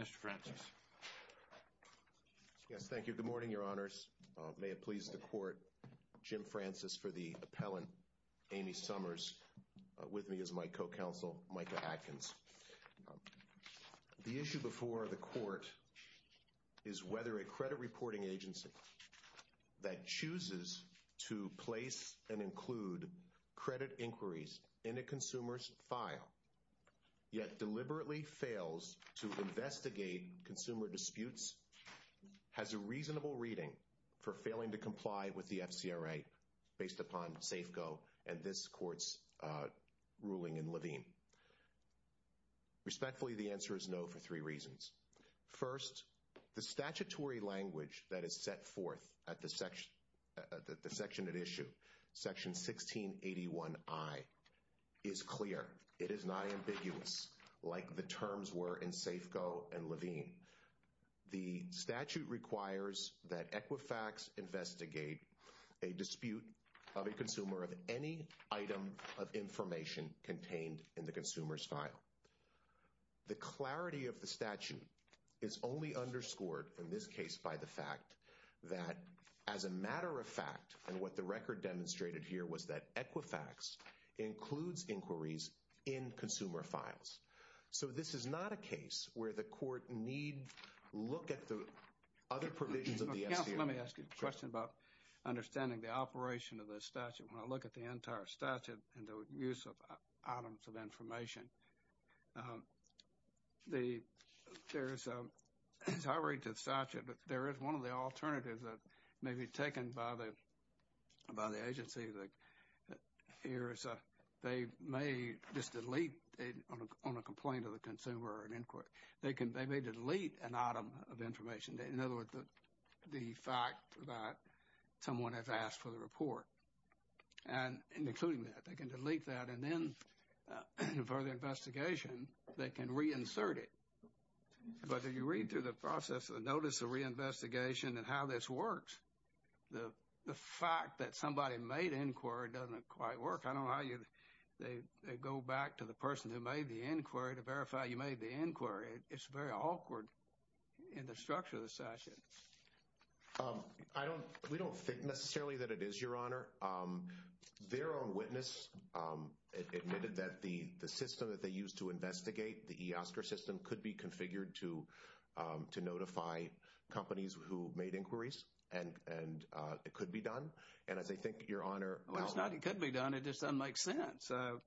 Mr. Francis. Yes, thank you. Good morning, Your Honors. May it please the Court, Jim Francis for the appellant, Amy Summers. With me is my co-counsel, Micah Atkins. The issue before the Court is whether a credit reporting agency that chooses to place and include credit inquiries in a consumer's file yet deliberately fails to investigate consumer disputes has a reasonable reading for failing to comply with the FCRA based upon Safeco and this Court's ruling in Levine. Respectfully, the answer is no for three reasons. First, the statutory is clear. It is not ambiguous like the terms were in Safeco and Levine. The statute requires that Equifax investigate a dispute of a consumer of any item of information contained in the consumer's file. The clarity of the statute is only underscored in this case by the fact that, as a matter of fact, and what the record demonstrated here was that Equifax includes inquiries in consumer files. So, this is not a case where the Court need look at the other provisions of the FCRA. Counsel, let me ask you a question about understanding the operation of the statute. When I look at the entire statute and the use of items of information, there is, as I read the statute, there is one of the alternatives that may be taken by the agency. They may just delete on a complaint of the consumer or an inquiry. They may delete an item of information. In other words, the fact that someone has asked for the report and including that, they can delete that and then, for the investigation, they can reinsert it. But if you read through the process of the notice of reinvestigation and how this works, the fact that somebody made inquiry doesn't quite work. I don't know how they go back to the person who made the inquiry to verify you made the inquiry. It's very awkward in the structure of the statute. I don't, we don't think necessarily that it is, Your Honor. Their own witness admitted that the system that they used to investigate, the eOSCAR system, could be configured to notify companies who made inquiries and it could be done. And as I think, Your Honor. Well, it's not it could be done. It just doesn't make sense. I'm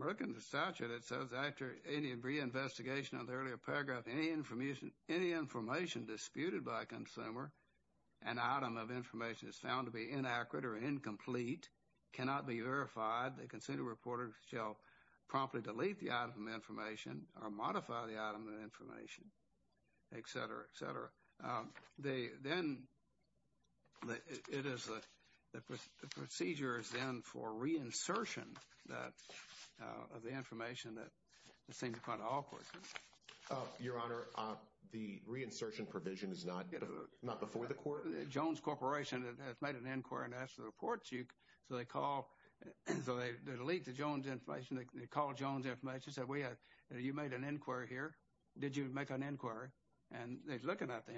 looking at the statute. It says, after any reinvestigation of the earlier paragraph, any information disputed by a consumer, an item of information is found to be inaccurate or incomplete, cannot be verified. The consumer reporter shall promptly delete the item of information or modify the item of information, etc., etc. Then, it is, the procedure is then for reinsertion of the information that seems kind of awkward. Your Honor, the reinsertion provision is not before the court? Jones Corporation has made an inquiry and asked for the report. So, they call, so they delete the Jones information. They call Jones Information and say, we have, you made an inquiry here. Did you make an inquiry? And they're looking at the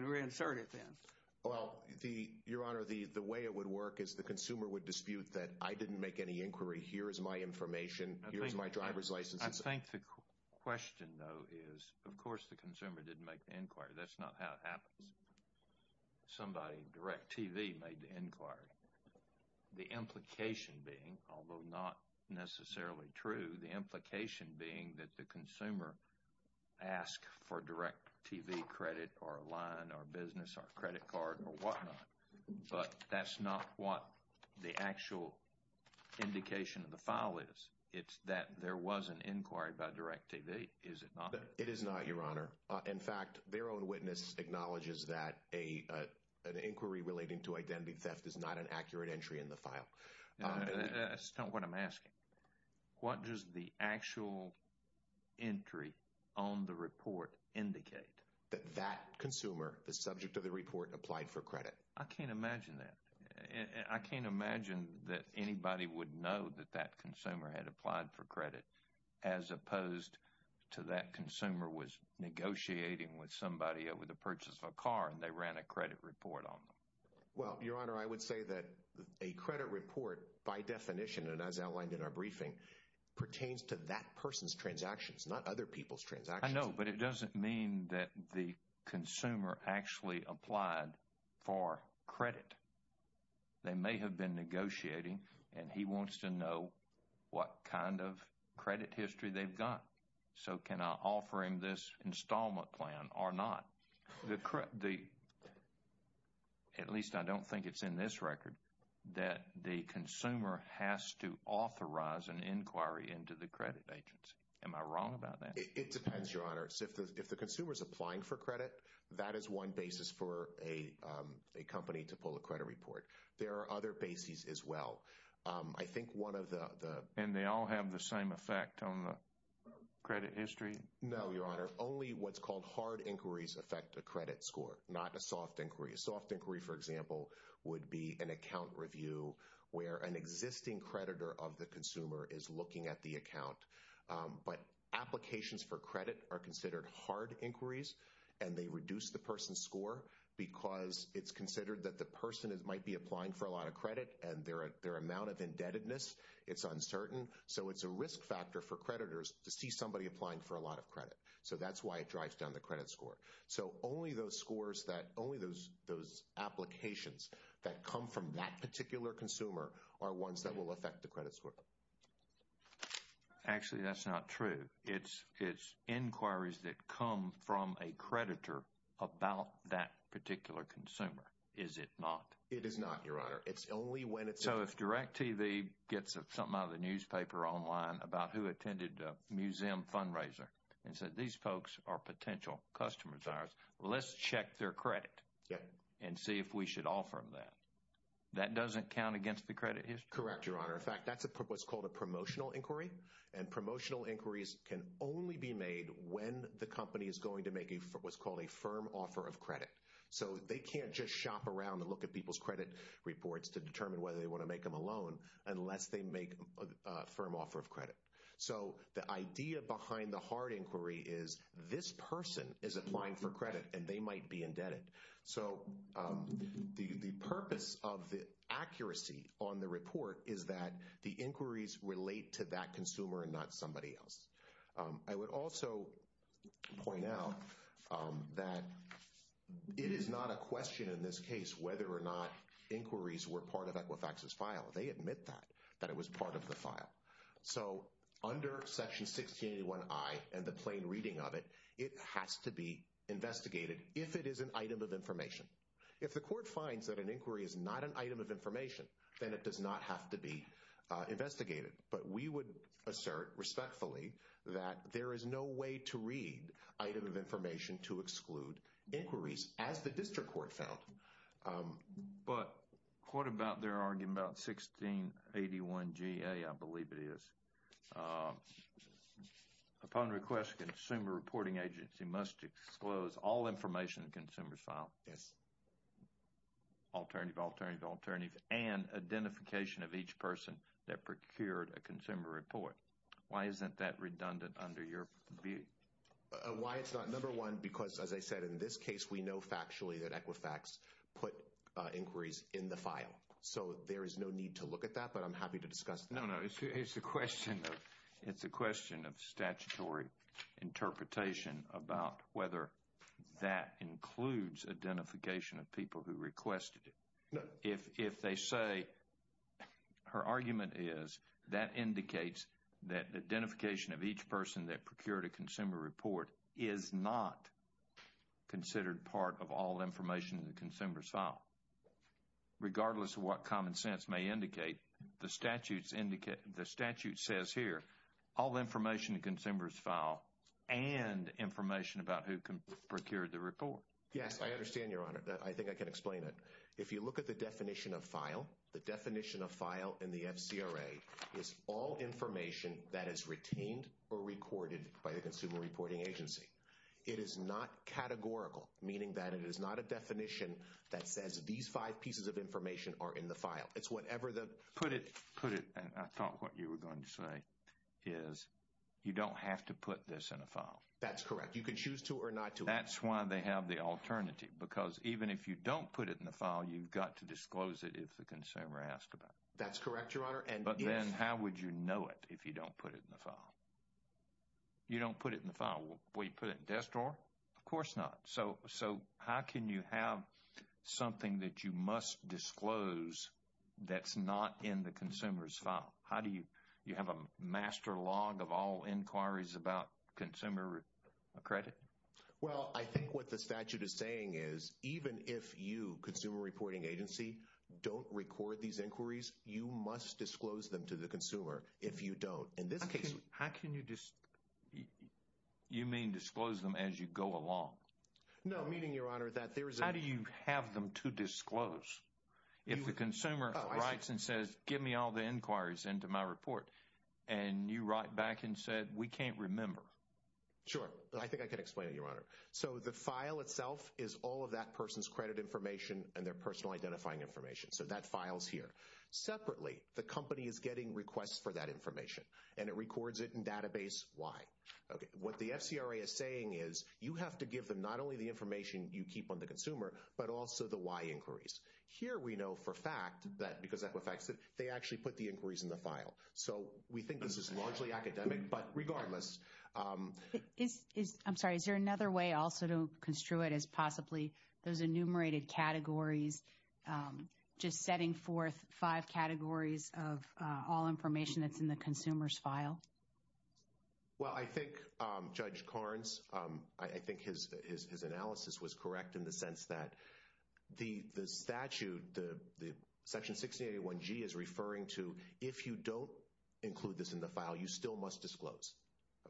reinserted then. Well, Your Honor, the way it would work is the consumer would dispute that I didn't make any inquiry. Here is my information. Here's my driver's license. I think the question, though, is, of course, the consumer didn't make the inquiry. That's not how it happens. Somebody, DirecTV, made the inquiry. The implication being, although not necessarily true, the implication being our business, our credit card, or whatnot, but that's not what the actual indication of the file is. It's that there was an inquiry by DirecTV, is it not? It is not, Your Honor. In fact, their own witness acknowledges that an inquiry relating to identity theft is not an accurate entry in the file. That's not what I'm asking. What does the actual entry on the report indicate? That that consumer, the subject of the report, applied for credit. I can't imagine that. I can't imagine that anybody would know that that consumer had applied for credit as opposed to that consumer was negotiating with somebody over the purchase of a car and they ran a credit report on them. Well, Your Honor, I would say that a credit report, by definition, and as outlined in our briefing, pertains to that person's transactions, not other people's transactions. I know, but it doesn't mean that the consumer actually applied for credit. They may have been negotiating and he wants to know what kind of credit history they've got. So, can I offer him this installment plan or not? At least I don't think it's in this record that the consumer has to authorize an inquiry into the credit agency. Am I wrong about that? It depends, Your Honor. If the consumer's applying for credit, that is one basis for a company to pull a credit report. There are other bases as well. I think one of the... And they all have the same effect on the credit history? No, Your Honor. Only what's called hard inquiries affect the credit score, not a soft inquiry. A soft inquiry, for example, would be an account review where an existing creditor of the consumer is looking at the account. But applications for credit are considered hard inquiries and they reduce the person's score because it's considered that the person might be applying for a lot of credit and their amount of indebtedness, it's uncertain. So, it's a risk factor for creditors to see somebody applying for a lot of credit. So, that's why it drives down the credit score. So, only those scores that... Only those applications that come from that particular consumer are ones that will affect the credit score. Actually, that's not true. It's inquiries that come from a creditor about that particular consumer, is it not? It is not, Your Honor. It's only when it's... So, if DirecTV gets something out of the newspaper online about who attended a museum fundraiser and said, these folks are potential customers of ours, let's check their credit and see if we should offer them that. That doesn't count against the credit history? Correct, Your Honor. In fact, that's what's called a promotional inquiry. And promotional inquiries can only be made when the company is going to make what's called a firm offer of credit. So, they can't just shop around and look at people's credit reports to determine whether they want to make them a loan unless they make a firm offer of credit. So, the idea behind the hard inquiry is this person is applying for credit and they might be indebted. So, the purpose of the accuracy on the report is that the inquiries relate to that consumer and not somebody else. I would also point out that it is not a question in this case whether or not inquiries were part of Equifax's file. They admit that, that it was part of the file. So, under Section 1681I and the plain reading of it, it has to be investigated if it is an item of information. If the court finds that an inquiry is not an item of information, then it does not have to be investigated. But we would assert respectfully that there is no way to read item of information to exclude inquiries, as the district court found. But what about their argument about 1681GA? I believe it is. Upon request, the Consumer Reporting Agency must disclose all information in the consumer's file. Yes. Alternative, alternative, alternative, and identification of each person that procured a consumer report. Why isn't that redundant under your view? Why it's not, number one, because as I know factually that Equifax put inquiries in the file. So there is no need to look at that, but I'm happy to discuss that. No, no. It's a question of, it's a question of statutory interpretation about whether that includes identification of people who requested it. If they say, her argument is that indicates that identification of each person that procured a of all information in the consumer's file. Regardless of what common sense may indicate, the statutes indicate, the statute says here, all information in the consumer's file and information about who procured the report. Yes, I understand your honor. I think I can explain it. If you look at the definition of file, the definition of file in the FCRA is all information that is retained or recorded by the Consumer Reporting Agency. It is not categorical, meaning that it is not a definition that says these five pieces of information are in the file. It's whatever the... Put it, put it, and I thought what you were going to say is you don't have to put this in a file. That's correct. You can choose to or not to. That's why they have the alternative, because even if you don't put it in the file, you've got to disclose it if the consumer asked about it. That's correct, your honor. But then how would you know it if you don't put it in the file? You don't put it in the file. Will you put it in the desk drawer? Of course not. So, how can you have something that you must disclose that's not in the consumer's file? How do you, you have a master log of all inquiries about consumer credit? Well, I think what the statute is saying is even if you, Consumer Reporting Agency, don't record these inquiries, you must disclose them to the consumer. You mean disclose them as you go along? No, meaning, your honor, that there's a... How do you have them to disclose? If the consumer writes and says, give me all the inquiries into my report, and you write back and said, we can't remember. Sure. I think I could explain it, your honor. So, the file itself is all of that person's credit information and their personal identifying information. So, that file's here. Separately, the company is getting requests for that information, and it records it in database Y. Okay. What the FCRA is saying is, you have to give them not only the information you keep on the consumer, but also the Y inquiries. Here, we know for a fact that, because that affects it, they actually put the inquiries in the file. So, we think this is largely academic, but regardless... I'm sorry. Is there another way also to construe it as possibly those enumerated categories, just setting forth five categories of all information that's in the consumer's file? Well, I think Judge Carnes, I think his analysis was correct in the sense that the statute, the Section 681G is referring to, if you don't include this in the file, you still must disclose.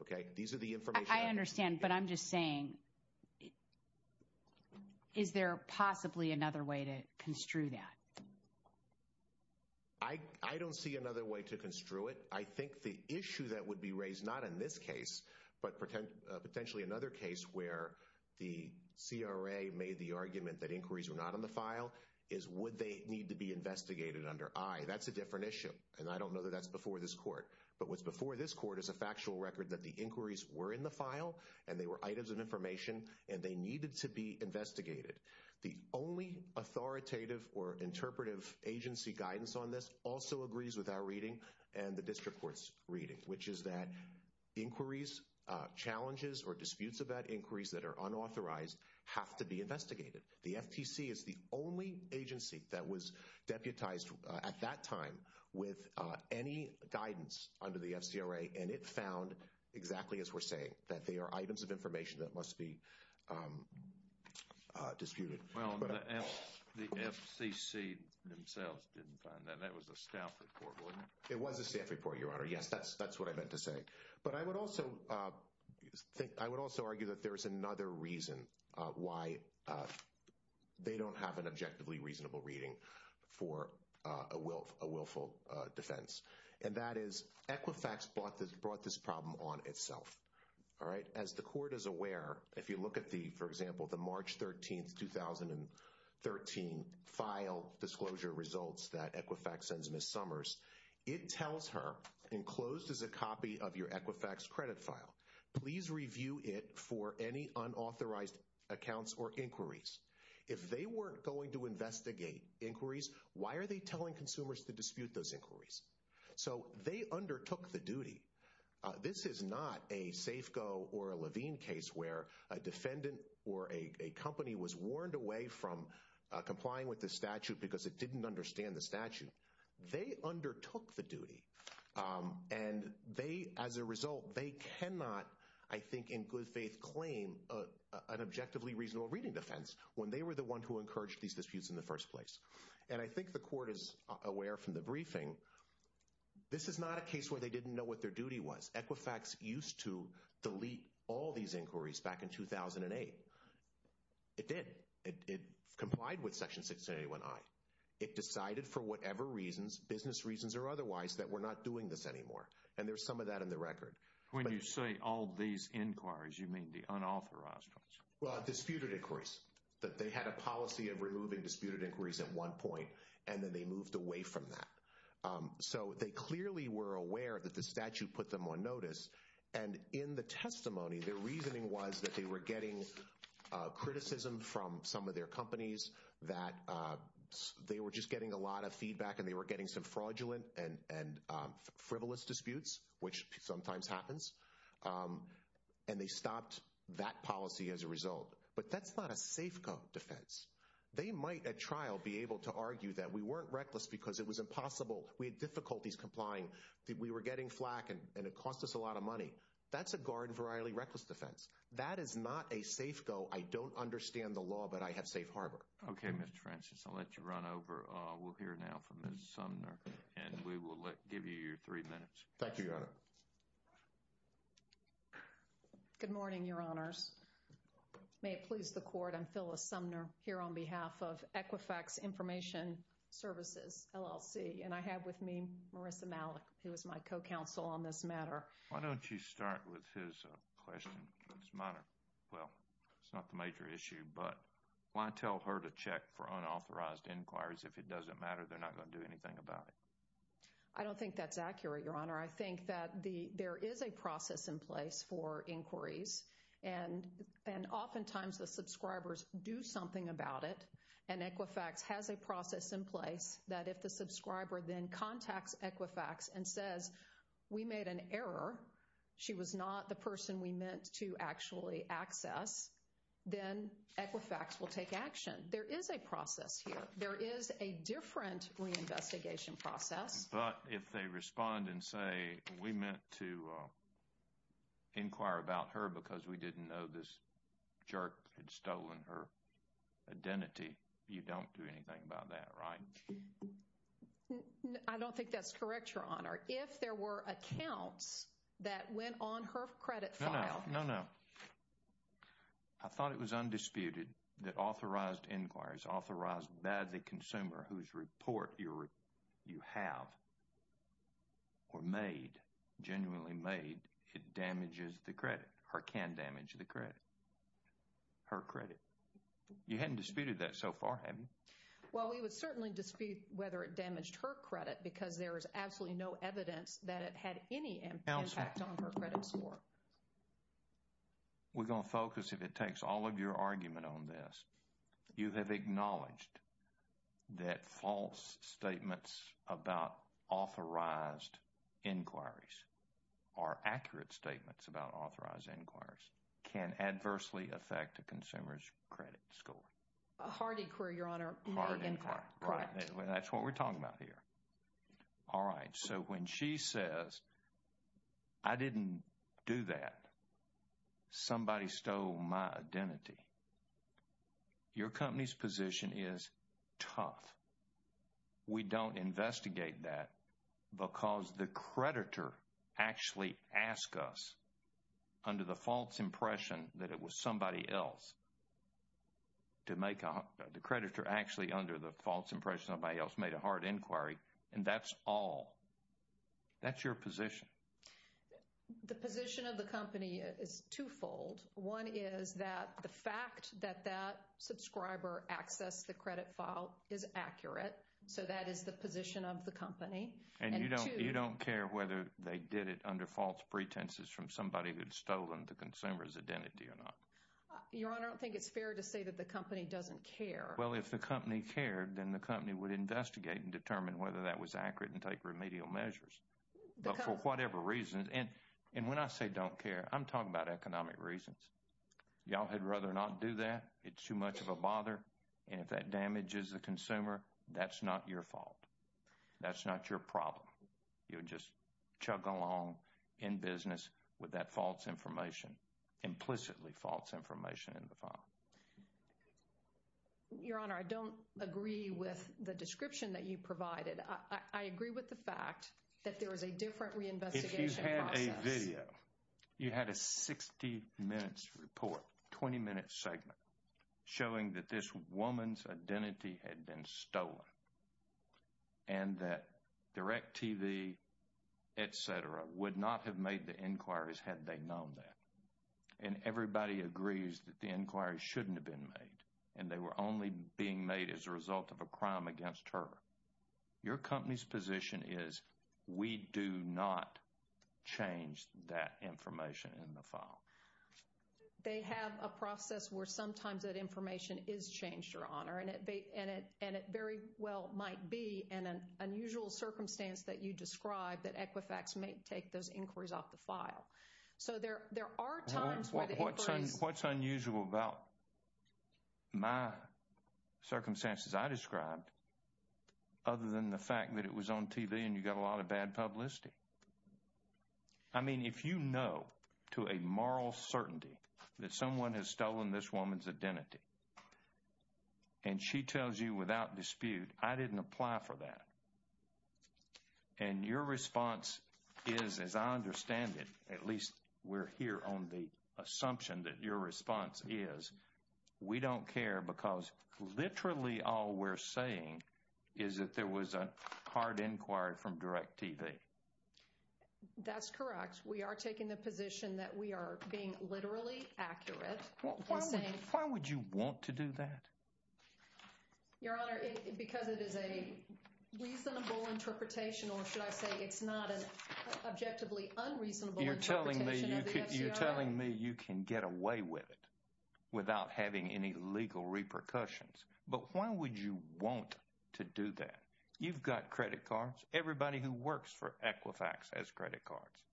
Okay? These are the information... I understand, but I'm just saying, is there possibly another way to construe that? I don't see another way to construe it. I think the issue that would be raised, not in this case, but potentially another case where the CRA made the argument that inquiries were not on the file is, would they need to be investigated under I? That's a different issue, and I don't know that that's before this court. But what's before this court is a factual record that the inquiries were in the file, and they were items of information, and they needed to be investigated. The only authoritative or interpretive agency guidance on this also agrees with our reading and the district court's reading, which is that inquiries, challenges, or disputes about inquiries that are unauthorized have to be investigated. The FTC is the only agency that was deputized at that time with any guidance under the FCRA, and it found, exactly as we're saying, that they are items of The FCC themselves didn't find that. That was a staff report, wasn't it? It was a staff report, Your Honor. Yes, that's what I meant to say. But I would also argue that there's another reason why they don't have an objectively reasonable reading for a willful defense, and that is Equifax brought this problem on itself. All right. As the court is aware, if you look at the, for example, the March 13, 2013 file disclosure results that Equifax sends Ms. Summers, it tells her, enclosed is a copy of your Equifax credit file. Please review it for any unauthorized accounts or inquiries. If they weren't going to investigate inquiries, why are they telling consumers to dispute those inquiries? So they undertook the duty. This is not a Safeco or a Levine case where a defendant or a company was warned away from complying with the statute because it didn't understand the statute. They undertook the duty, and they, as a result, they cannot, I think, in good faith claim an objectively reasonable reading defense when they were the one who encouraged these disputes in the they didn't know what their duty was. Equifax used to delete all these inquiries back in 2008. It did. It complied with Section 681I. It decided for whatever reasons, business reasons or otherwise, that we're not doing this anymore, and there's some of that in the record. When you say all these inquiries, you mean the unauthorized ones? Well, disputed inquiries, that they had a policy of removing disputed inquiries at one point, and then they moved away from that. So they clearly were aware that the statute put them on notice, and in the testimony, their reasoning was that they were getting criticism from some of their companies that they were just getting a lot of feedback and they were getting some fraudulent and frivolous disputes, which sometimes happens, and they stopped that policy as a result. But that's not a Safeco defense. They might, at trial, be able to argue that we weren't reckless because it was impossible. We had difficulties complying. We were getting flack, and it cost us a lot of money. That's a Garden-Verily reckless defense. That is not a Safeco. I don't understand the law, but I have safe harbor. Okay, Mr. Francis, I'll let you run over. We'll hear now from Ms. Sumner, and we will give you your three minutes. Thank you, Your Honor. Good morning, Your Honors. May it please the Court, I'm Phyllis Sumner here on behalf of Equifax Information Services, LLC, and I have with me Marissa Malik, who is my co-counsel on this matter. Why don't you start with his question, Ms. Sumner? Well, it's not the major issue, but why tell her to check for unauthorized inquiries if it doesn't matter? They're not going to do anything about it. I don't think that's accurate, Your Honor. I think that there is a process in place for place that if the subscriber then contacts Equifax and says, we made an error, she was not the person we meant to actually access, then Equifax will take action. There is a process here. There is a different reinvestigation process. But if they respond and say, we meant to inquire about her because we didn't know this jerk had stolen her identity, you don't do anything about that, right? I don't think that's correct, Your Honor. If there were accounts that went on her credit file... No, no. I thought it was undisputed that authorized inquiries, authorized by the consumer whose report you have or made, genuinely made, it damages the credit or can damage the credit, her credit. You haven't disputed that so far, have you? Well, we would certainly dispute whether it damaged her credit because there is absolutely no evidence that it had any impact on her credit score. We're going to focus, if it takes all of your argument on this, you have acknowledged that false statements about authorized inquiries or accurate statements about authorized inquiries can adversely affect a consumer's credit score. A hard inquiry, Your Honor. Hard inquiry. That's what we're talking about here. All right. So when she says, I didn't do that. Somebody stole my identity. Your company's position is tough. We don't investigate that because the creditor actually asked us under the false impression that it was somebody else to make a... The creditor actually under the false impression somebody else made a hard inquiry and that's all. That's your position. The position of the company is twofold. One is that the fact that that subscriber accessed the credit file is accurate. So that is the position of the company. And you don't care whether they did it under false pretenses from somebody who'd stolen the consumer's identity or not. Your Honor, I don't think it's fair to say that the company doesn't care. Well, if the company cared, then the company would investigate and determine whether that was accurate and take remedial measures. But for whatever reason, and when I say don't care, I'm talking about economic reasons. Y'all had rather not do that. It's too much of a bother. And if that damages the consumer, that's not your fault. That's not your problem. You just chug along in business with that false information, implicitly false information in the file. Your Honor, I don't agree with the description that you provided. I agree with the fact that there was a different reinvestigation process. If you had a video, you had a 60 minutes report, 20 minute segment showing that this woman's identity had been stolen and that DirecTV, et cetera, would not have made the inquiries had they known that. And everybody agrees that the inquiry shouldn't have been made. And they were only being made as a result of a crime against her. Your company's position is we do not change that information in the file. They have a process where sometimes that information is changed, Your Honor, and it very well might be in an unusual circumstance that you describe that Equifax may take those inquiries off the file. So there are times where the inquiries- What's unusual about my circumstances I described other than the fact that it was on TV and you got a lot of bad certainty that someone has stolen this woman's identity. And she tells you without dispute, I didn't apply for that. And your response is, as I understand it, at least we're here on the assumption that your response is, we don't care because literally all we're saying is that there was a hard inquiry from DirecTV. That's correct. We are taking the position that we are being literally accurate. Why would you want to do that? Your Honor, because it is a reasonable interpretation, or should I say it's not an objectively unreasonable interpretation of the FCR. You're telling me you can get away with it without having any legal repercussions, but why would you want to do that? You've got credit cards. Everybody who works for Equifax has credit cards,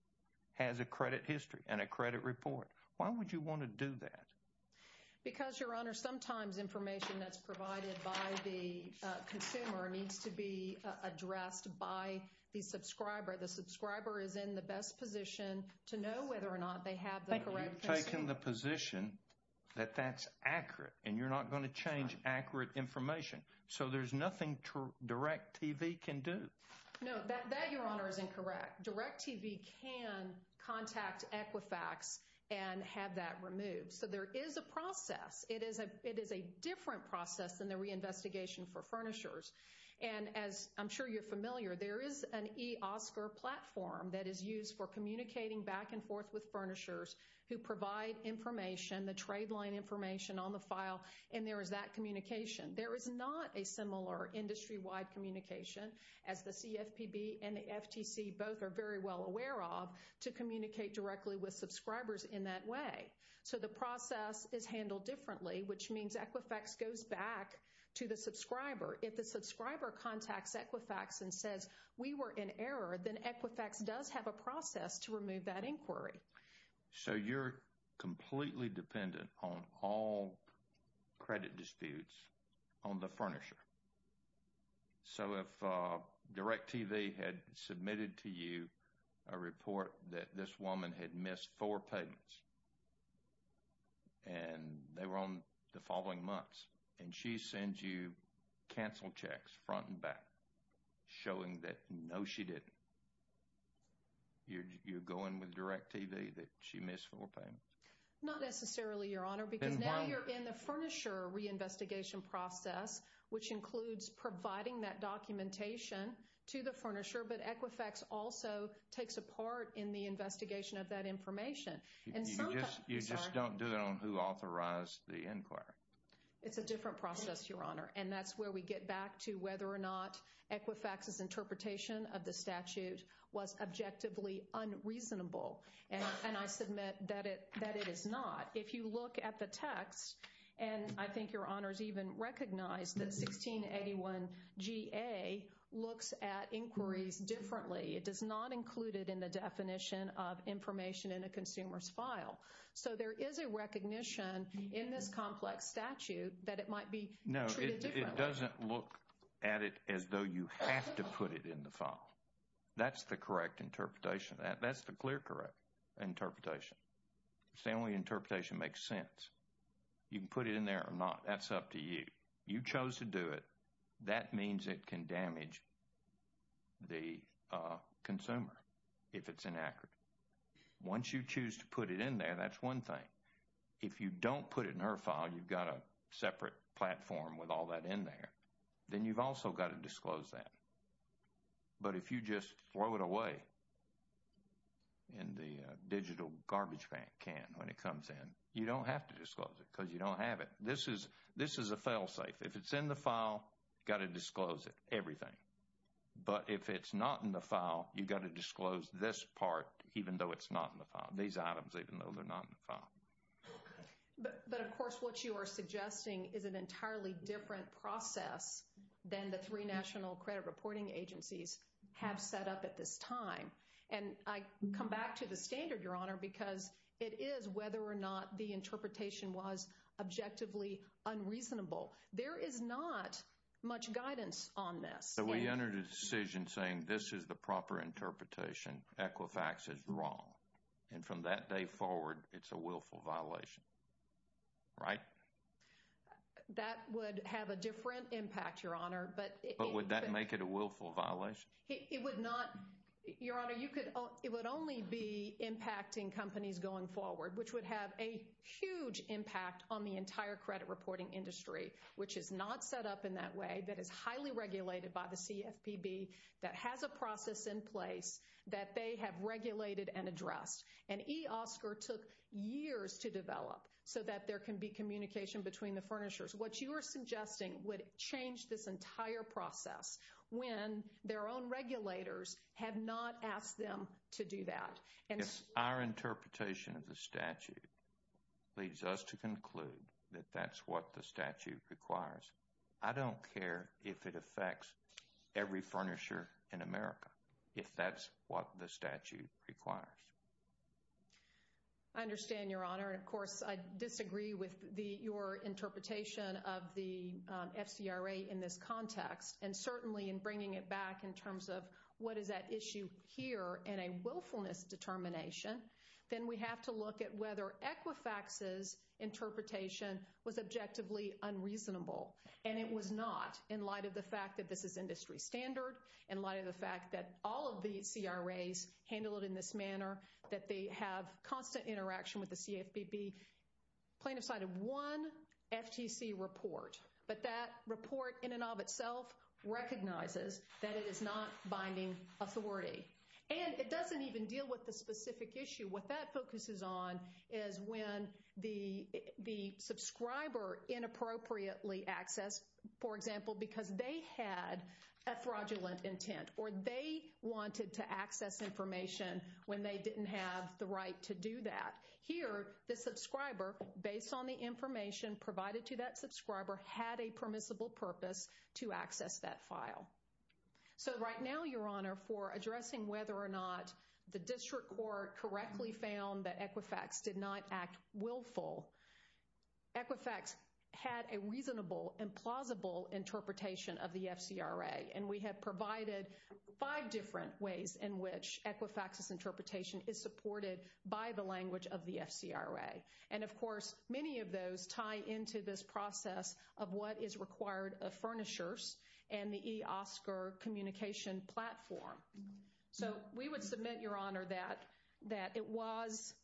has a credit history and a credit report. Why would you want to do that? Because, Your Honor, sometimes information that's provided by the consumer needs to be addressed by the subscriber. The subscriber is in the best position to know whether or not they have the correct... You've taken the position that that's accurate and you're not going to change accurate information. So there's nothing DirecTV can do. No, that, Your Honor, is incorrect. DirecTV can contact Equifax and have that removed. So there is a process. It is a different process than the reinvestigation for furnishers. And as I'm sure you're familiar, there is an eOscar platform that is used for communicating back and forth with furnishers who provide information, the trade line information on the file, and there is that communication. There is not a similar industry-wide communication, as the CFPB and the FTC both are very well aware of, to communicate directly with subscribers in that way. So the process is handled differently, which means Equifax goes back to the subscriber. If the subscriber contacts Equifax and says, we were in error, then Equifax does have a process to remove that inquiry. So you're completely dependent on all credit disputes on the furnisher. So if DirecTV had submitted to you a report that this woman had missed four payments and they were on the following months, and she sends you cancel checks front and back, showing that no, she didn't, you're going with DirecTV, that she missed four payments. Not necessarily, Your Honor, because now you're in the furnisher reinvestigation process, which includes providing that documentation to the furnisher, but Equifax also takes a part in the investigation of that information. You just don't do that on who authorized the inquiry. It's a different process, Your Honor, and that's where we get back to whether or not Equifax's interpretation of the statute was objectively unreasonable, and I submit that it is not. If you look at the text, and I think Your Honor's even recognized that 1681 GA looks at inquiries differently. It does not include it in the definition of information in a consumer's file. So there is a recognition in this complex statute that it might be treated differently. No, it doesn't look at it as though you have to put it in the file. That's the correct interpretation. That's the clear correct interpretation. Stanley, interpretation makes sense. You can put it in there or not. That's up to you. You chose to do it. That means it can damage the consumer if it's inaccurate. Once you choose to put it in there, that's one thing. If you don't put it in her file, you've got a separate platform with all that in there. Then you've also got to disclose that. But if you just throw it away in the digital garbage can when it comes in, you don't have to disclose it because you don't have it. This is a fail-safe. If it's in the file, you've got to disclose it, everything. But if it's not in the file, you've got to disclose this part even though it's not in the file, these items even though they're not in the file. But of course, what you are suggesting is an entirely different process than the three national credit reporting agencies have set up at this time. And I come back to the standard, because it is whether or not the interpretation was objectively unreasonable. There is not much guidance on this. So we entered a decision saying this is the proper interpretation, Equifax is wrong. And from that day forward, it's a willful violation, right? That would have a different impact, Your Honor. But would that make it a willful violation? It would not. Your Honor, it would only be impacting companies going forward, which would have a huge impact on the entire credit reporting industry, which is not set up in that way, that is highly regulated by the CFPB, that has a process in place that they have regulated and addressed. And eOSCR took years to develop so that there can be communication between the have not asked them to do that. If our interpretation of the statute leads us to conclude that that's what the statute requires, I don't care if it affects every furnisher in America, if that's what the statute requires. I understand, Your Honor. And of course, I disagree with your interpretation of the in terms of what is that issue here and a willfulness determination, then we have to look at whether Equifax's interpretation was objectively unreasonable. And it was not, in light of the fact that this is industry standard, in light of the fact that all of the CRAs handle it in this manner, that they have constant interaction with the CFPB. Plaintiff cited one FTC report, but that report in and of itself recognizes that it is not binding authority. And it doesn't even deal with the specific issue. What that focuses on is when the subscriber inappropriately accessed, for example, because they had a fraudulent intent or they wanted to access information when they didn't have the right to do that. Here, the subscriber, based on the information provided to that subscriber, had a permissible purpose to access that file. So right now, Your Honor, for addressing whether or not the district court correctly found that Equifax did not act willful, Equifax had a reasonable and plausible interpretation of the FCRA. And we have provided five different ways in which Equifax's interpretation is supported by the language of the FCRA. And of course, many of those tie into this process of what is required of furnishers and the eOSCR communication platform. So we would submit, Your Honor, that it was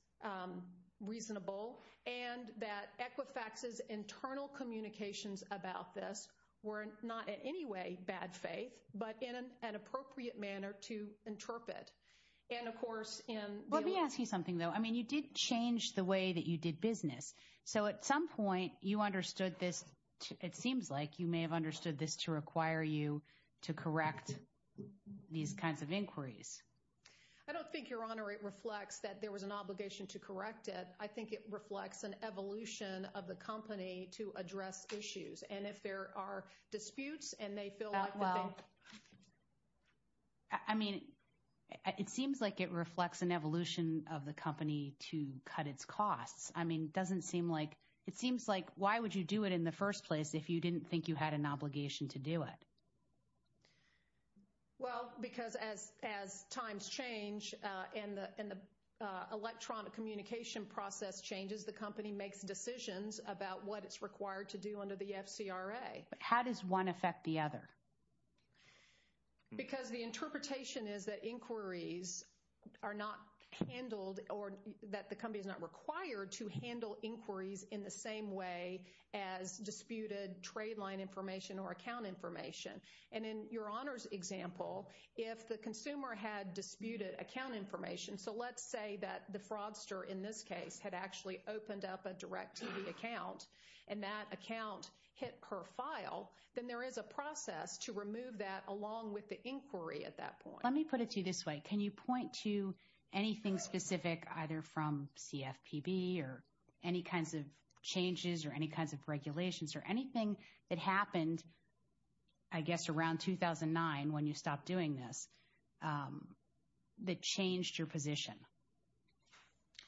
reasonable and that Equifax's internal communications about this were not in any way bad faith, but in an appropriate manner to interpret. And of course, in... Let me ask you something, though. I mean, you did change the way that you did business. So at some point, you understood this. It seems like you may have understood this to require you to correct these kinds of inquiries. I don't think, Your Honor, it reflects that there was an obligation to correct it. I think it reflects an evolution of the company to address issues. And if there are disputes and they feel like... Well, I mean, it seems like it reflects an evolution of the company to cut its costs. I mean, it doesn't seem like... It seems like, why would you do it in the first place if you didn't think you had an obligation to do it? Well, because as times change and the electronic communication process changes, the company makes decisions about what it's required to do under the FCRA. How does one affect the other? Because the interpretation is that inquiries are not handled or that the company is not required to handle inquiries in the same way as disputed trade line information or account information. And in Your Honor's example, if the consumer had disputed account information... So let's say that the fraudster in this case had actually opened up a direct TV account, and that account hit per file, then there is a process to remove that along with the inquiry at that point. Let me put it to you this way. Can you point to anything specific either from CFPB or any kinds of changes or any kinds of regulations or anything that happened, I guess, around 2009 when you stopped doing this, that changed your position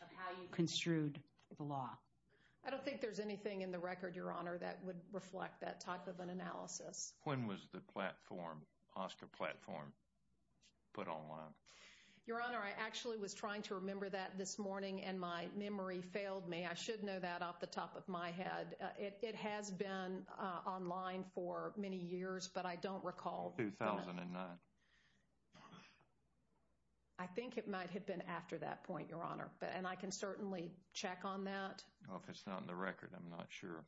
of how you construed the law? I don't think there's anything in the record, Your Honor, that would reflect that type of an analysis. When was the platform, Oscar platform, put online? Your Honor, I actually was trying to remember that this morning, and my memory failed me. I should know that off the top of my head. It has been online for many years, but I don't recall... 2009. I think it might have been after that point, Your Honor. And I can certainly check on that. If it's not in the record, I'm not sure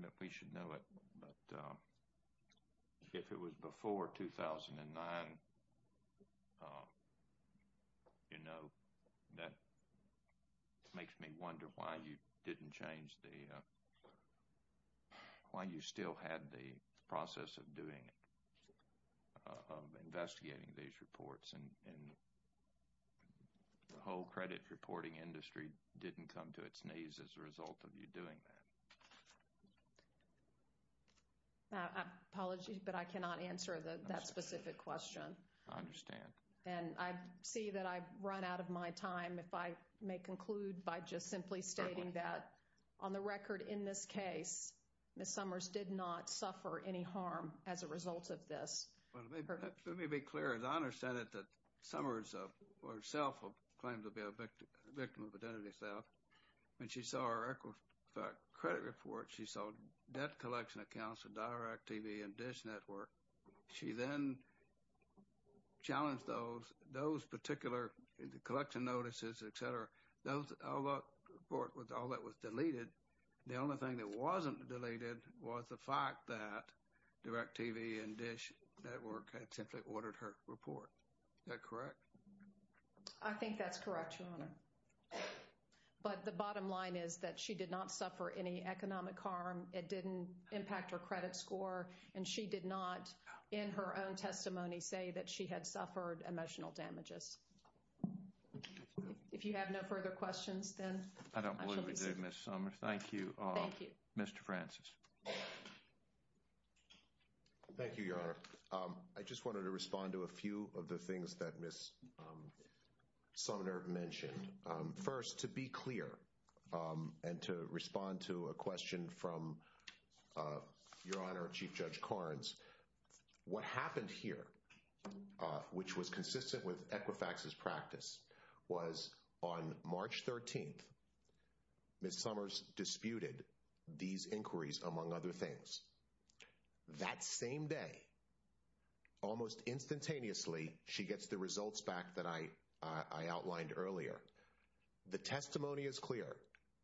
that we should know it, but if it was before 2009, you know, that makes me wonder why you didn't change the... why you still had the process of doing it, of investigating these reports, and the whole credit reporting industry didn't come to its knees as a result of you doing that. Apologies, but I cannot answer that specific question. I understand. And I see that I've run out of my time, if I may conclude by just simply stating that on the record in this case, Ms. Summers did not suffer any harm as a result of this. Well, let me be clear. As I understand it, that Summers herself claimed to be a victim of identity theft. When she saw our credit report, she saw debt collection accounts of DirecTV and DISH Network. She then challenged those particular collection notices, etc. Those, all that report, all that was deleted, the only thing that wasn't deleted was the fact that I simply ordered her report. Is that correct? I think that's correct, Your Honor. But the bottom line is that she did not suffer any economic harm. It didn't impact her credit score, and she did not, in her own testimony, say that she had suffered emotional damages. If you have no further questions, then... I don't believe we do, Ms. Summers. Thank you, Mr. Francis. Thank you, Your Honor. I just wanted to respond to a few of the things that Ms. Summers mentioned. First, to be clear and to respond to a question from Your Honor, Chief Judge Karnes, what happened here, which was consistent with Equifax's practice, was on March 13th, Ms. Summers disputed these inquiries, among other things. That same day, almost instantaneously, she gets the results back that I outlined earlier. The testimony is clear.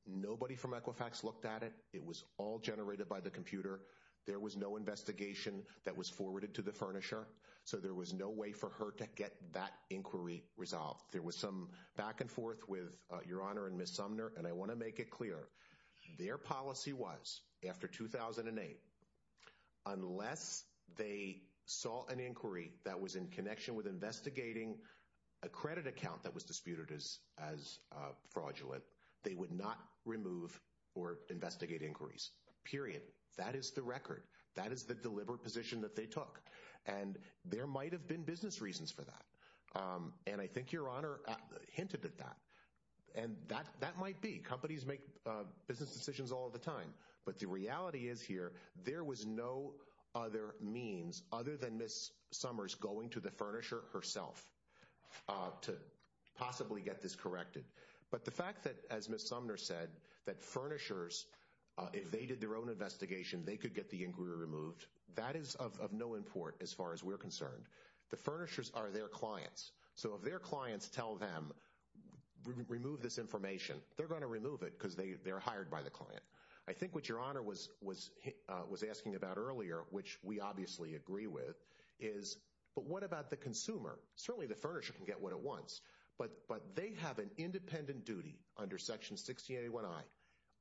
Nobody from Equifax looked at it. It was all generated by the computer. There was no investigation that was forwarded to the furnisher, so there was no way for her to get that inquiry resolved. There was some back and forth with Your Honor and Ms. Summers, and I want to make it clear. Their policy was, after 2008, unless they saw an inquiry that was in connection with investigating a credit account that was disputed as fraudulent, they would not remove or investigate inquiries. Period. That is the record. That is the deliberate position that they took. There might have been business reasons for that. And I think Your Honor hinted at that. And that might be. Companies make business decisions all the time. But the reality is here, there was no other means other than Ms. Summers going to the furnisher herself to possibly get this corrected. But the fact that, as Ms. Sumner said, that furnishers, if they did their own investigation, they could get the inquiry removed, that is of no import as far as we're concerned. The furnishers are their clients. So if their clients tell them, remove this information, they're going to remove it because they're hired by the client. I think what Your Honor was asking about earlier, which we obviously agree with, is, but what about the consumer? Certainly, the furnisher can get what it wants, but they have an independent duty under Section 1681I.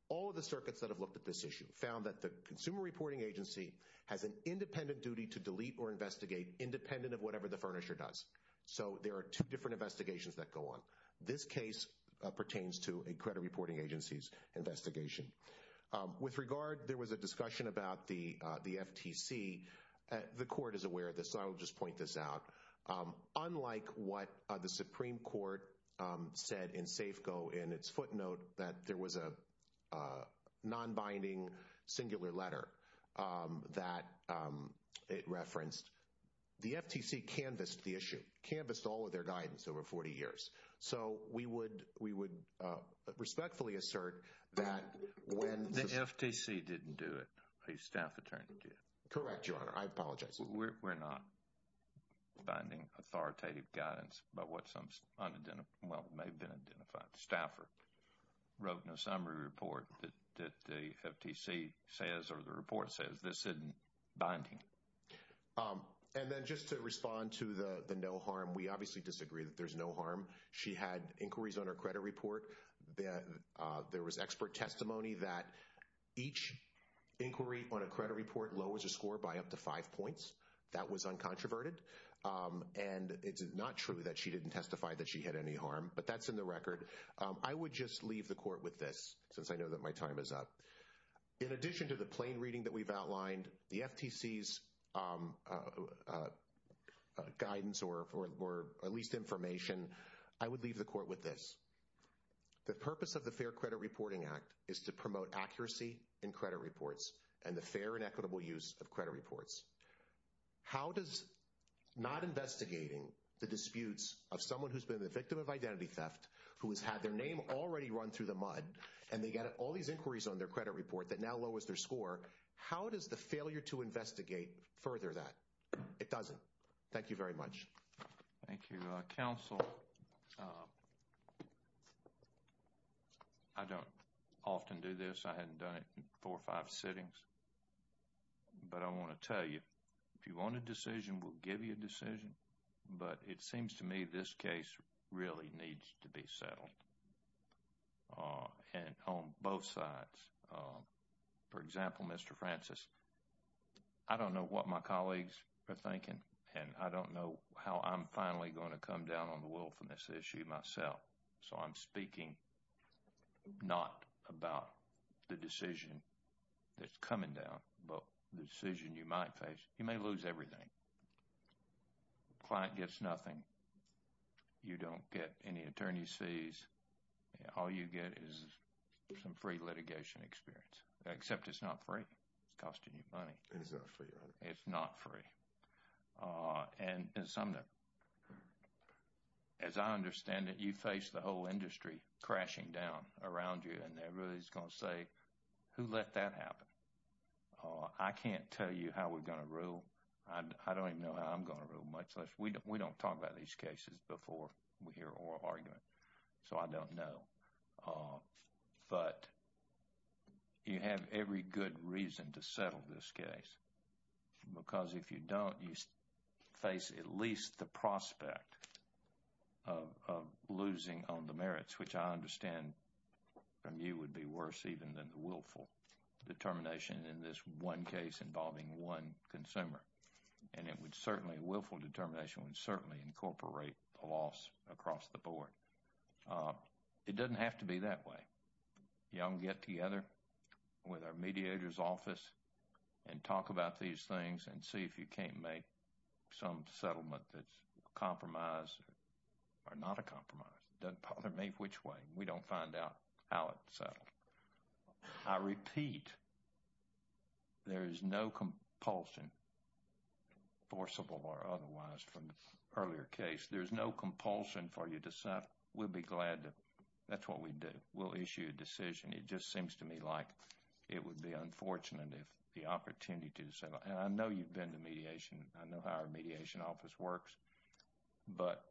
All of the circuits that have looked at this issue found that the consumer reporting agency has an independent duty to delete or investigate, independent of whatever the furnisher does. So there are two different investigations that go on. This case pertains to a credit reporting agency's investigation. With regard, there was a discussion about the FTC. The Court is aware of this, so I will just point this out. Unlike what the Supreme Nonbinding Singular Letter that it referenced, the FTC canvassed the issue, canvassed all of their guidance over 40 years. So we would respectfully assert that when... The FTC didn't do it. A staff attorney did. Correct, Your Honor. I apologize. We're not finding authoritative guidance about what some unidentified, well, may have been identified. The staffer wrote in a summary report that the FTC says, or the report says, this isn't binding. And then just to respond to the no harm, we obviously disagree that there's no harm. She had inquiries on her credit report. There was expert testimony that each inquiry on a she didn't testify that she had any harm, but that's in the record. I would just leave the Court with this, since I know that my time is up. In addition to the plain reading that we've outlined, the FTC's guidance, or at least information, I would leave the Court with this. The purpose of the Fair Credit Reporting Act is to promote accuracy in credit reports and the fair and equitable use of credit reports. How does not investigating the disputes of someone who's been the victim of identity theft, who has had their name already run through the mud, and they got all these inquiries on their credit report that now lowers their score, how does the failure to investigate further that? It doesn't. Thank you very much. Thank you, counsel. I don't often do this. I haven't done it in four or five sittings, but I want to tell you, if you want a decision, we'll give you a decision, but it seems to me this case really needs to be settled. And on both sides, for example, Mr. Francis, I don't know what my colleagues are myself, so I'm speaking not about the decision that's coming down, but the decision you might face. You may lose everything. Client gets nothing. You don't get any attorney's fees. All you get is some free litigation experience, except it's not free. It's costing you money. It is not free, right? It's not free. As I understand it, you face the whole industry crashing down around you, and everybody's going to say, who let that happen? I can't tell you how we're going to rule. I don't even know how I'm going to rule, much less we don't talk about these cases before we hear oral argument, so I don't know. But you have every good reason to settle this case. Because if you don't, you face at least the prospect of losing on the merits, which I understand from you would be worse even than the willful determination in this one case involving one consumer. And it would certainly, willful determination would certainly incorporate the loss across the board. It doesn't have to be that way. You all can get together with our mediator's office and talk about these things and see if you can't make some settlement that's a compromise or not a compromise. Doesn't bother me which way. We don't find out how it's settled. I repeat, there is no compulsion, forcible or otherwise, from the earlier case. There's no compulsion for you to say, we'll be glad to, that's what we do. We'll issue a decision. It just seems to me like it would be unfortunate if the opportunity to settle, and I know you've been to mediation. I know how our mediation office works. But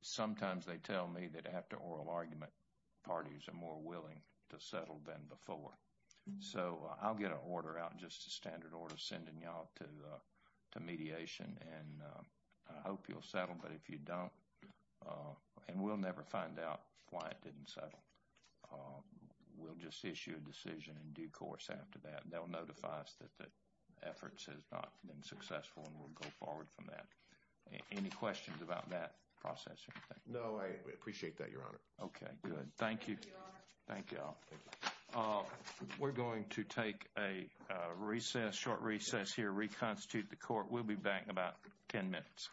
sometimes they tell me that after oral argument, parties are more willing to settle than before. So, I'll get an order out, just a standard order, sending you all to mediation and I hope you'll settle. But if you issue a decision in due course after that, they'll notify us that the efforts have not been successful and we'll go forward from that. Any questions about that process or anything? No, I appreciate that, your honor. Okay, good. Thank you. Thank you all. We're going to take a recess, short recess here, reconstitute the court. We'll be back in about 10 minutes.